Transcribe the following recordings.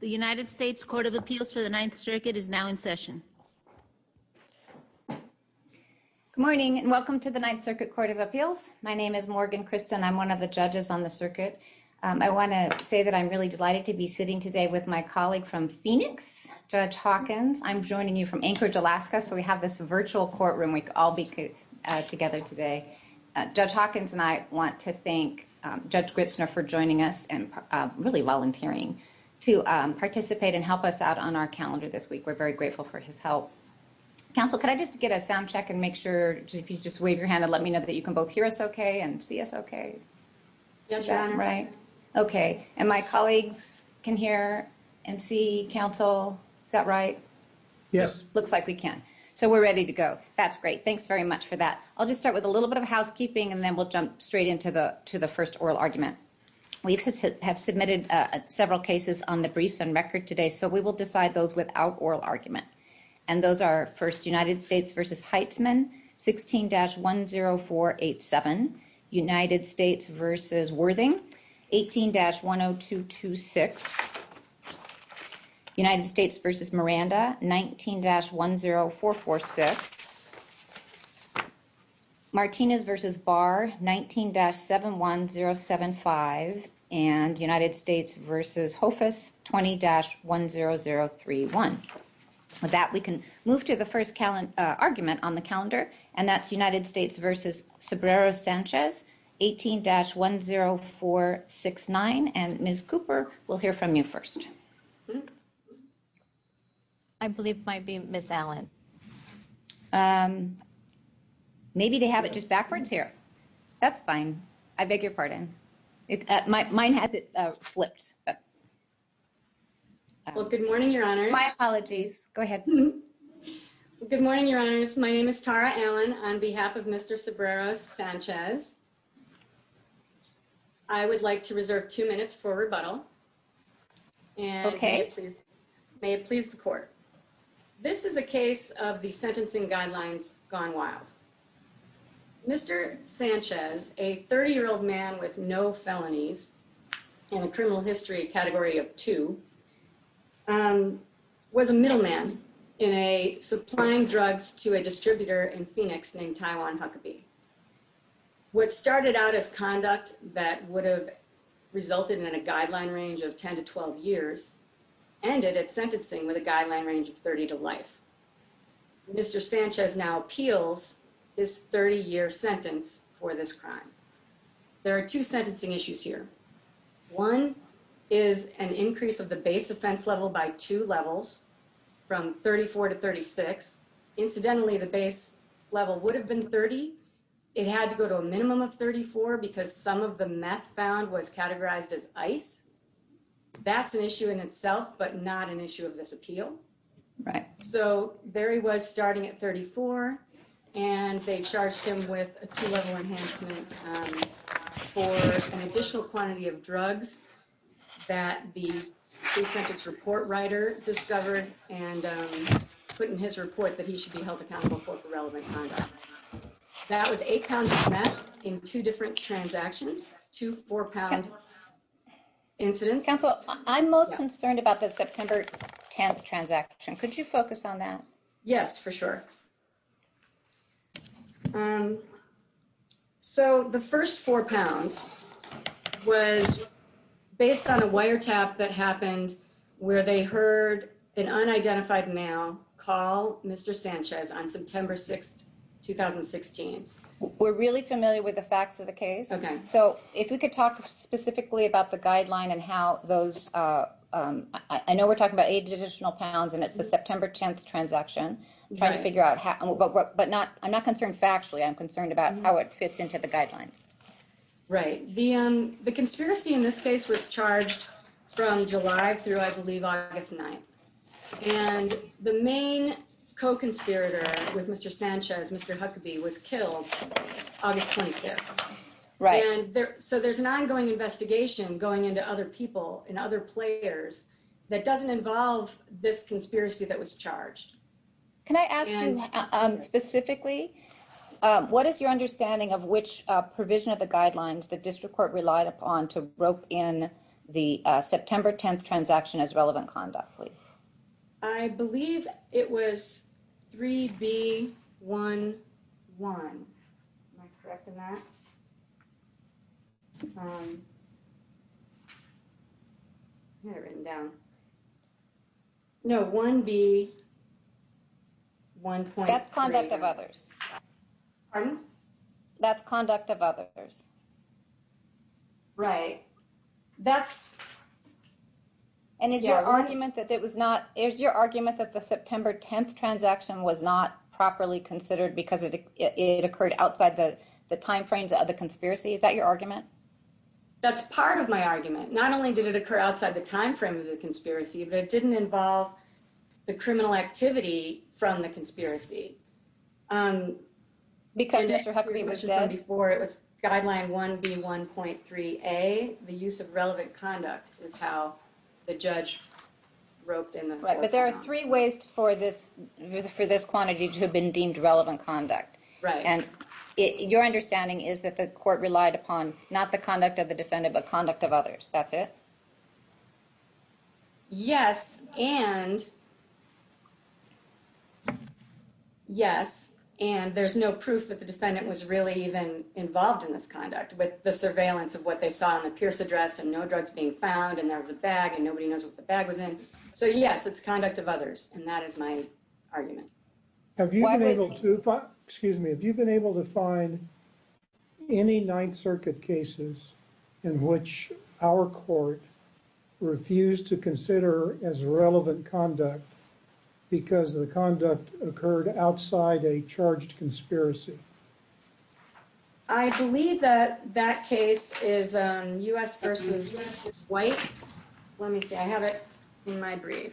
The United States Court of Appeals for the Ninth Circuit is now in session. Good morning and welcome to the Ninth Circuit Court of Appeals. My name is Morgan Christen. I'm one of the judges on the circuit. I want to say that I'm really delighted to be sitting today with my colleague from Phoenix, Judge Hawkins. I'm joining you from Anchorage, Alaska, so we have this virtual courtroom we could all be together today. Judge Hawkins and I want to thank Judge Gritzner for joining us and really volunteering to participate and help us out on our calendar this week. We're very grateful for his help. Counsel, can I just get a sound check and make sure if you just wave your hand and let me know that you can both hear us okay and see us okay? Yes, Your Honor. Right? Okay. And my colleagues can hear and see counsel? Is that right? Yes. Looks like we can. So we're ready to go. That's great. Thanks very much for that. I'll just start with a little bit of housekeeping and then we'll jump straight into the first oral argument. We have submitted several cases on the briefs on record today, so we will decide those without oral argument. And those are first United States v. Heitzman, 16-10487. United States v. Worthing, 18-10226. United States v. Miranda, 19-10446. Martinez v. Barr, 19-71075. And United States v. Hofus, 20-10031. With that, we can move to the first argument on the calendar, and that's United States v. Sobrero Sanchez, 18-10469. And Ms. Cooper, we'll hear from you first. I believe it might be Ms. Allen. Maybe they have it just backwards here. That's fine. I beg your pardon. Mine has it flipped. Well, good morning, Your Honors. My apologies. Go ahead. Good morning, Your Honors. My name is Tara Allen on behalf of Mr. Sobrero Sanchez. I would like to reserve two minutes for rebuttal, and may it please the Court. This is a case of the sentencing guidelines gone wild. Mr. Sanchez, a 30-year-old man with no felonies in the criminal history category of two, was a middleman in supplying drugs to a distributor in Phoenix named Taiwan Huckabee. What started out as conduct that would have resulted in a guideline range of 10 to 12 years ended at sentencing with a guideline range of 30 to life. Mr. Sanchez now appeals his 30-year sentence for this crime. There are two sentencing issues here. One is an increase of the base offense level by two levels from 34 to 36. Incidentally, the base level would have been 30. It had to go to a minimum of 34 because some of the meth found was categorized as ice. That's an issue in itself, but not an issue of this appeal. So Barry was starting at 34, and they charged him with a two-level enhancement for an additional quantity of drugs that the case record's report writer discovered and put in his report that he should be held accountable for for relevant conduct. That was eight pounds of meth in two different transactions, two four-pound incidents. Counsel, I'm most concerned about the September 10th transaction. Could you focus on that? Yes, for sure. So the first four pounds was based on a wiretap that happened where they heard an unidentified male call Mr. Sanchez on September 6, 2016. We're really familiar with the facts of the case. Okay. So if we could talk specifically about the guideline and how those... I know we're talking about eight additional pounds, and it's the September 10th transaction. I'm trying to figure out how... But I'm not concerned factually. I'm concerned about how it fits into the guidelines. Right. The conspiracy in this case was charged from July through, I believe, August 9. And the main co-conspirator with Mr. Sanchez, Mr. Huckabee, was killed August 25th. So there's an ongoing investigation going into other people and other players that doesn't involve this conspiracy that was charged. Can I ask you specifically, what is your understanding of which provision of the guidelines the district court relied upon to rope in the September 10th transaction as relevant conduct, please? I believe it was 3B11. Am I correct on that? I had it written down. No, 1B1.3. That's conduct of others. Pardon? That's conduct of others. Right. That's... Is your argument that the September 10th transaction was not properly considered because it occurred outside the time frames of the conspiracy? Is that your argument? That's part of my argument. Not only did it occur outside the time frame of the conspiracy, but it didn't involve the criminal activity from the conspiracy. Because Mr. Huckabee was dead? I believe it was 1B1.3A. The use of relevant conduct is how the judge roped in the... But there are three ways for this quantity to have been deemed relevant conduct. Right. And your understanding is that the court relied upon not the conduct of the defendant, but conduct of others. That's it? Yes, and... Yes, and there's no proof that the defendant was really even involved in this conduct with the surveillance of what they saw in the Pierce address, and no drugs being found, and there was a bag, and nobody knows what the bag was in. So, yes, it's conduct of others, and that is my argument. Have you been able to... Excuse me. Have you been able to find any Ninth Circuit cases in which our court refused to consider as relevant conduct because the conduct occurred outside a charged conspiracy? I believe that that case is U.S. v. White. Let me see. I have it in my brief.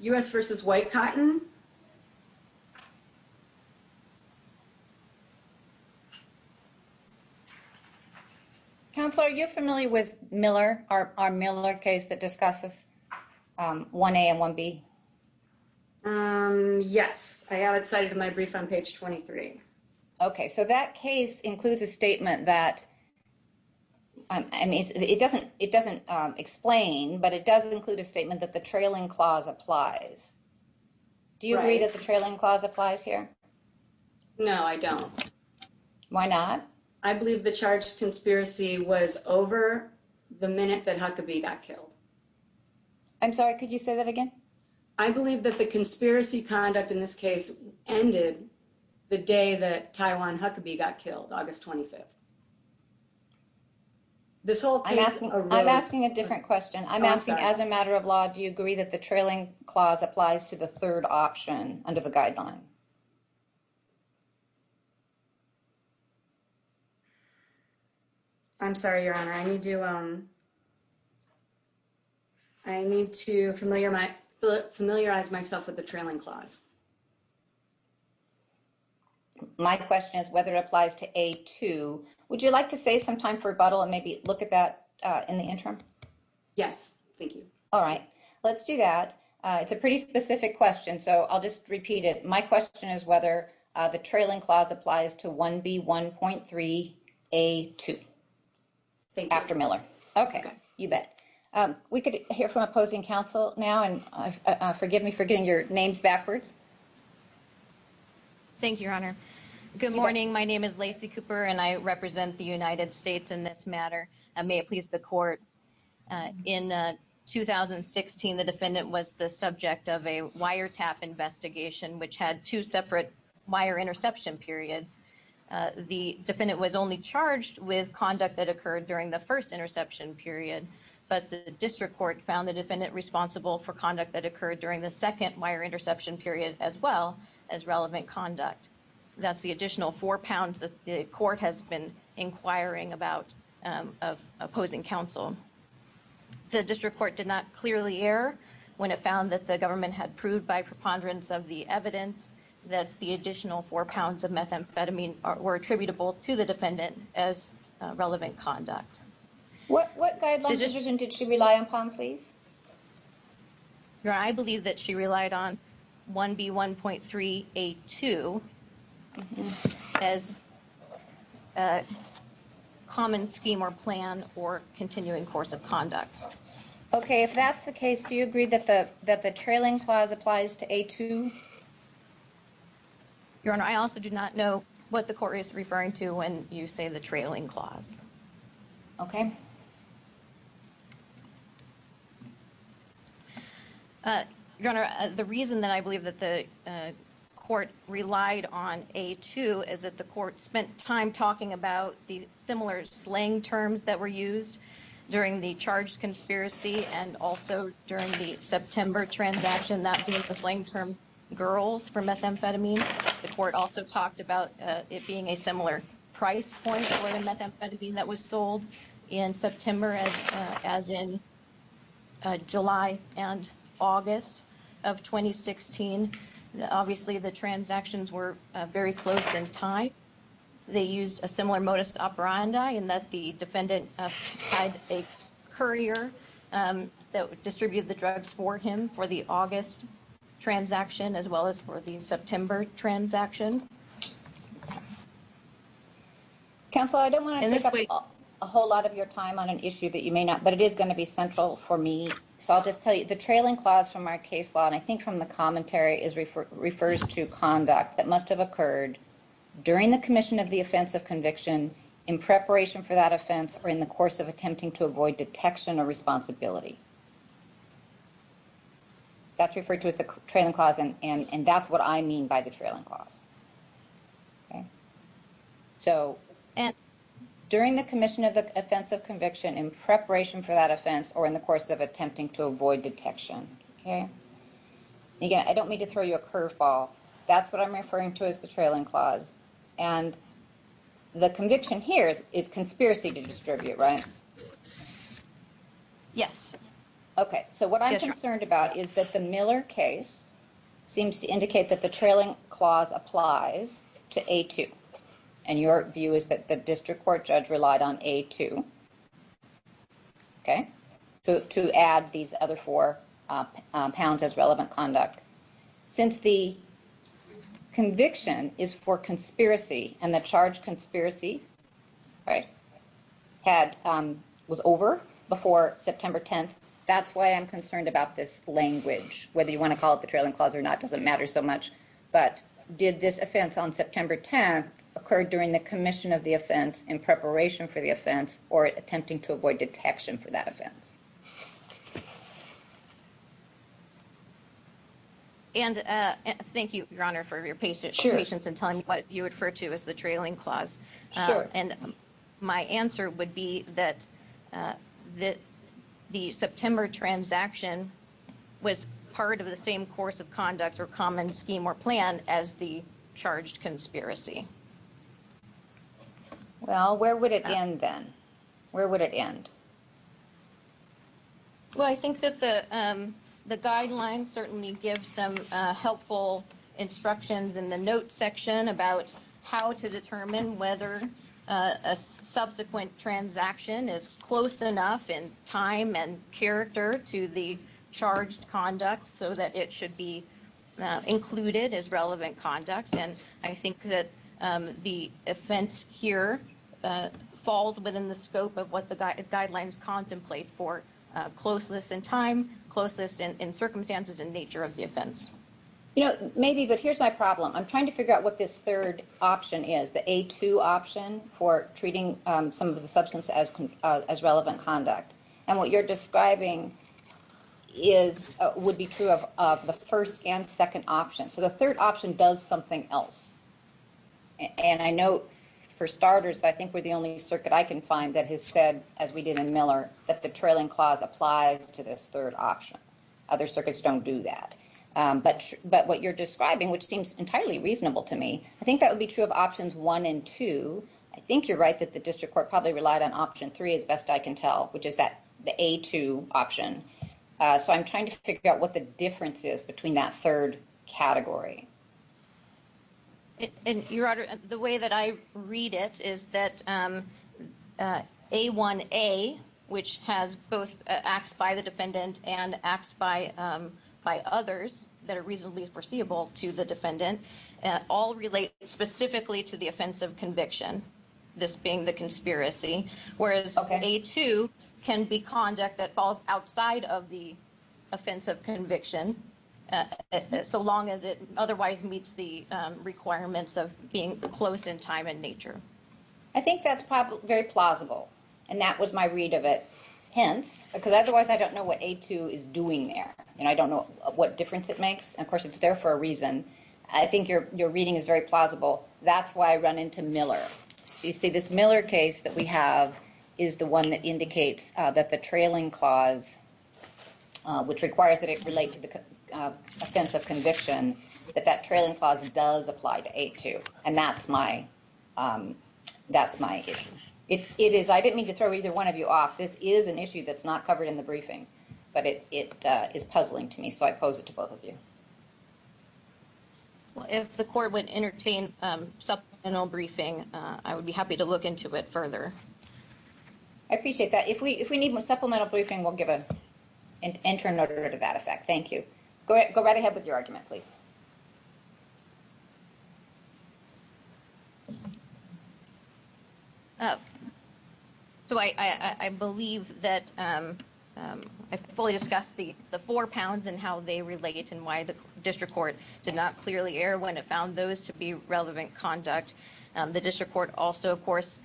U.S. v. White-Cotton? Counselor, are you familiar with Miller, our Miller case that discusses 1A and 1B? Yes, I have it cited in my brief on page 23. Okay, so that case includes a statement that... I mean, it doesn't explain, but it does include a statement that the trailing clause applies. Do you agree that the trailing clause applies here? No, I don't. Why not? I believe the charged conspiracy was over the minute that Huckabee got killed. I'm sorry, could you say that again? I believe that the conspiracy conduct in this case ended the day that Taiwan Huckabee got killed, August 25th. I'm asking a different question. I'm asking, as a matter of law, do you agree that the trailing clause applies to the third option under the guideline? Okay. I'm sorry, Your Honor. I need to familiarize myself with the trailing clause. My question is whether it applies to A2. Would you like to save some time for rebuttal and maybe look at that in the interim? Yes, thank you. All right, let's do that. It's a pretty specific question, so I'll just repeat it. My question is whether the trailing clause applies to 1B1.3A2. Thank you. After Miller. Okay, you bet. We could hear from opposing counsel now, and forgive me for getting your names backwards. Thank you, Your Honor. Good morning. My name is Lacey Cooper, and I represent the United States in this matter. May it please the court. In 2016, the defendant was the subject of a wiretap investigation, which had two separate wire interception periods. The defendant was only charged with conduct that occurred during the first interception period, but the district court found the defendant responsible for conduct that occurred during the second wire interception period as well as relevant conduct. That's the additional four pounds that the court has been inquiring about of opposing counsel. The district court did not clearly err when it found that the government had proved by preponderance of the evidence that the additional four pounds of methamphetamine were attributable to the defendant as relevant conduct. Your Honor, I believe that she relied on 1B1.3A2 as a common scheme or plan or continuing course of conduct. Okay, if that's the case, do you agree that the trailing clause applies to A2? Your Honor, I also do not know what the court is referring to when you say the trailing clause. Okay. Your Honor, the reason that I believe that the court relied on A2 is that the court spent time talking about the similar slang terms that were used during the charged conspiracy and also during the September transaction, that being the slang term girls for methamphetamine. The court also talked about it being a similar price point for the methamphetamine that was sold in September as in July and August of 2016. Obviously, the transactions were very close in time. They used a similar modus operandi in that the defendant had a courier that would distribute the drugs for him for the August transaction, as well as for the September transaction. Counsel, I don't want to take up a whole lot of your time on an issue that you may not, but it is going to be central for me. So I'll just tell you the trailing clause from our case law, and I think from the commentary, refers to conduct that must have occurred during the commission of the offense of conviction in preparation for that offense or in the course of attempting to avoid detection or responsibility. That's referred to as the trailing clause, and that's what I mean by the trailing clause. Okay. So, and during the commission of the offense of conviction in preparation for that offense or in the course of attempting to avoid detection. Okay. Again, I don't mean to throw you a curveball. That's what I'm referring to as the trailing clause. And the conviction here is conspiracy to distribute, right? Yes. Okay. So what I'm concerned about is that the Miller case seems to indicate that the trailing clause applies to A2. And your view is that the district court judge relied on A2. Okay. To add these other four pounds as relevant conduct. Okay. Since the conviction is for conspiracy and the charge conspiracy, right, was over before September 10th, that's why I'm concerned about this language. Whether you want to call it the trailing clause or not doesn't matter so much. But did this offense on September 10th occur during the commission of the offense in preparation for the offense or attempting to avoid detection for that offense? And thank you, Your Honor, for your patience in telling me what you refer to as the trailing clause. Sure. And my answer would be that the September transaction was part of the same course of conduct or common scheme or plan as the charged conspiracy. Well, where would it end then? Where would it end? Well, I think that the guidelines certainly give some helpful instructions in the notes section about how to determine whether a subsequent transaction is close enough in time and character to the charged conduct so that it should be included as relevant conduct. And I think that the offense here falls within the scope of what the guidelines contemplate for closeness in time, closeness in circumstances and nature of the offense. You know, maybe, but here's my problem. I'm trying to figure out what this third option is, the A2 option for treating some of the substance as relevant conduct. And what you're describing would be true of the first and second option. So the third option does something else. And I know for starters, I think we're the only circuit I can find that has said, as we did in Miller, that the trailing clause applies to this third option. Other circuits don't do that. But what you're describing, which seems entirely reasonable to me, I think that would be true of options one and two. I think you're right that the district court probably relied on option three as best I can tell, which is that the A2 option. So I'm trying to figure out what the difference is between that third category. Your Honor, the way that I read it is that A1A, which has both acts by the defendant and acts by others that are reasonably foreseeable to the defendant, all relate specifically to the offense of conviction. This being the conspiracy, whereas A2 can be conduct that falls outside of the offense of conviction so long as it otherwise meets the requirements of being close in time and nature. I think that's very plausible. And that was my read of it. Hence, because otherwise I don't know what A2 is doing there. And I don't know what difference it makes. Of course, it's there for a reason. I think your reading is very plausible. That's why I run into Miller. You see, this Miller case that we have is the one that indicates that the trailing clause, which requires that it relate to the offense of conviction, that that trailing clause does apply to A2. And that's my that's my it is. I didn't mean to throw either one of you off. This is an issue that's not covered in the briefing, but it is puzzling to me. So I pose it to both of you. Well, if the court would entertain some briefing, I would be happy to look into it further. I appreciate that. If we if we need more supplemental briefing, we'll give an interim order to that effect. Thank you. Go ahead. Go right ahead with your argument, please. So I believe that I fully discussed the four pounds and how they relate and why the district court did not clearly err when it found those to be relevant conduct. The district court also, of course,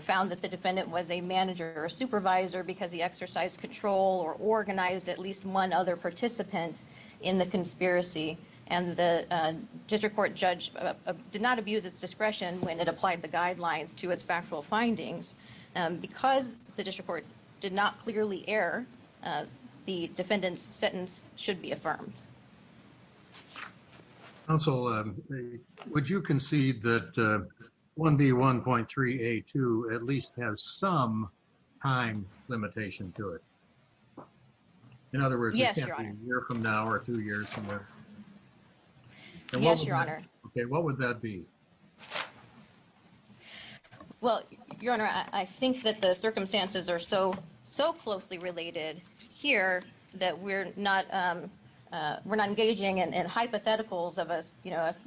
found that the defendant was a manager or supervisor because he exercised control or organized at least one other participant in the conspiracy. And the district court judge did not abuse its discretion when it applied the guidelines to its factual findings because the district court did not clearly err. The defendant's sentence should be affirmed. Also, would you concede that 1B1.3A2 at least has some time limitation to it? In other words, you're from now or two years from now. Yes, your honor. What would that be? Well, your honor, I think that the circumstances are so so closely related here that we're not we're not engaging in hypotheticals of a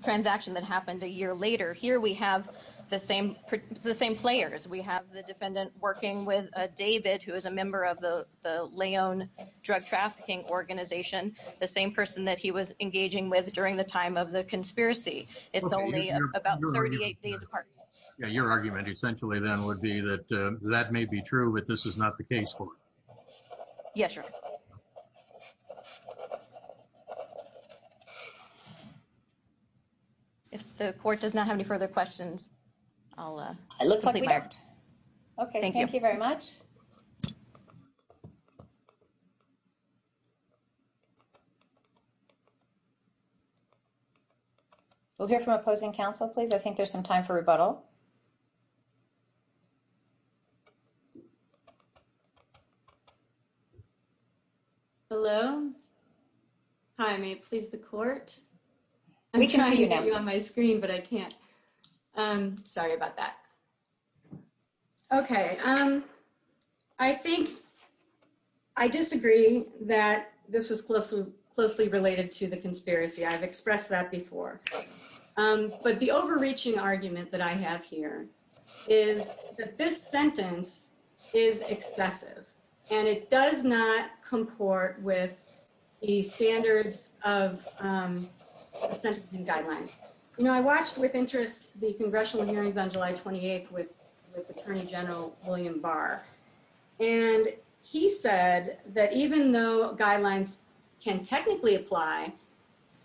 transaction that happened a year later. Here we have the same the same players. We have the defendant working with David, who is a member of the Leon drug trafficking organization, the same person that he was engaging with during the time of the conspiracy. It's only about 38 days apart. Your argument essentially then would be that that may be true, but this is not the case. Yes, sir. If the court does not have any further questions. I'll, uh, it looks like we are. Okay. Thank you. Thank you very much. We'll hear from opposing counsel, please. I think there's some time for rebuttal. Hello. Hi, may it please the court. I'm trying to get you on my screen, but I can't. I'm sorry about that. Okay. Um, I think. I disagree that this was closely closely related to the conspiracy. I've expressed that before. But the overreaching argument that I have here is that this sentence is excessive, and it does not comport with the standards of sentencing guidelines. You know, I watched with interest, the congressional hearings on July 28th with attorney general, William Barr. And he said that even though guidelines can technically apply.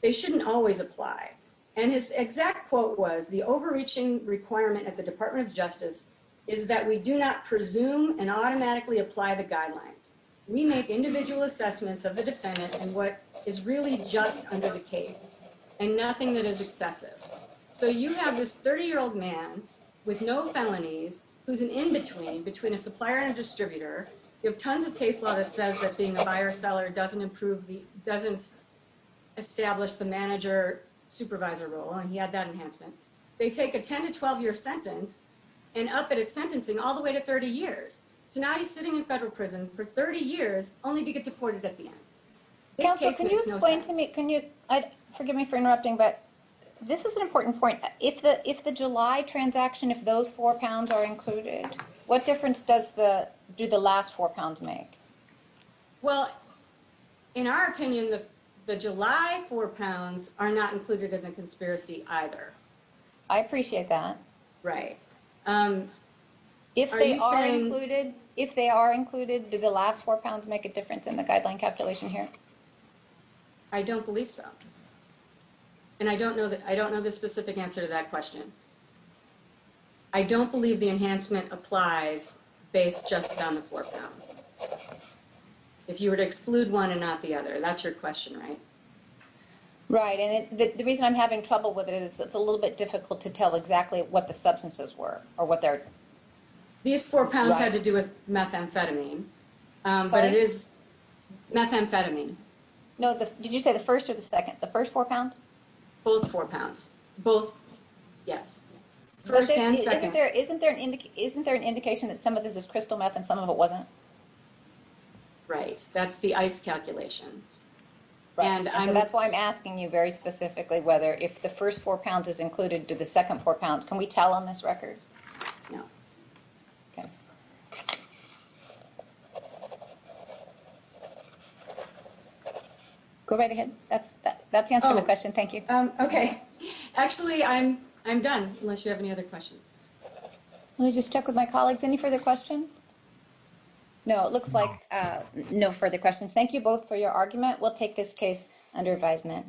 They shouldn't always apply. And his exact quote was the overreaching requirement at the Department of Justice is that we do not presume and automatically apply the guidelines. We make individual assessments of the defendant and what is really just under the case and nothing that is excessive. So you have this 30 year old man with no felonies, who's an in between between a supplier and distributor. You have tons of case law that says that being a buyer seller doesn't improve the doesn't establish the manager supervisor role. And he had that enhancement. They take a 10 to 12 year sentence. And up at its sentencing all the way to 30 years. So now he's sitting in federal prison for 30 years, only to get deported at the end. Can you explain to me, can you forgive me for interrupting, but this is an important point. If the if the July transaction, if those four pounds are included, what difference does the do the last four pounds make. Well, in our opinion, the July four pounds are not included in the conspiracy either. I appreciate that. Right. If they are included, if they are included, do the last four pounds make a difference in the guideline calculation here. I don't believe so. And I don't know that I don't know the specific answer to that question. I don't believe the enhancement applies based just on the four pounds. If you were to exclude one and not the other, that's your question, right? Right. And the reason I'm having trouble with it is it's a little bit difficult to tell exactly what the substances were or what they're. These four pounds had to do with methamphetamine, but it is methamphetamine. No. Did you say the first or the second? The first four pounds? Both four pounds. Both. Yes. First and second. Isn't there an isn't there an indication that some of this is crystal meth and some of it wasn't? Right. That's the ice calculation. Right. And that's why I'm asking you very specifically whether if the first four pounds is included to the second four pounds, can we tell on this record? No. OK. Go right ahead. That's that's the answer to the question. Thank you. OK. Actually, I'm I'm done unless you have any other questions. Let me just check with my colleagues. Any further questions? No, it looks like no further questions. Thank you both for your argument. We'll take this case under advisement.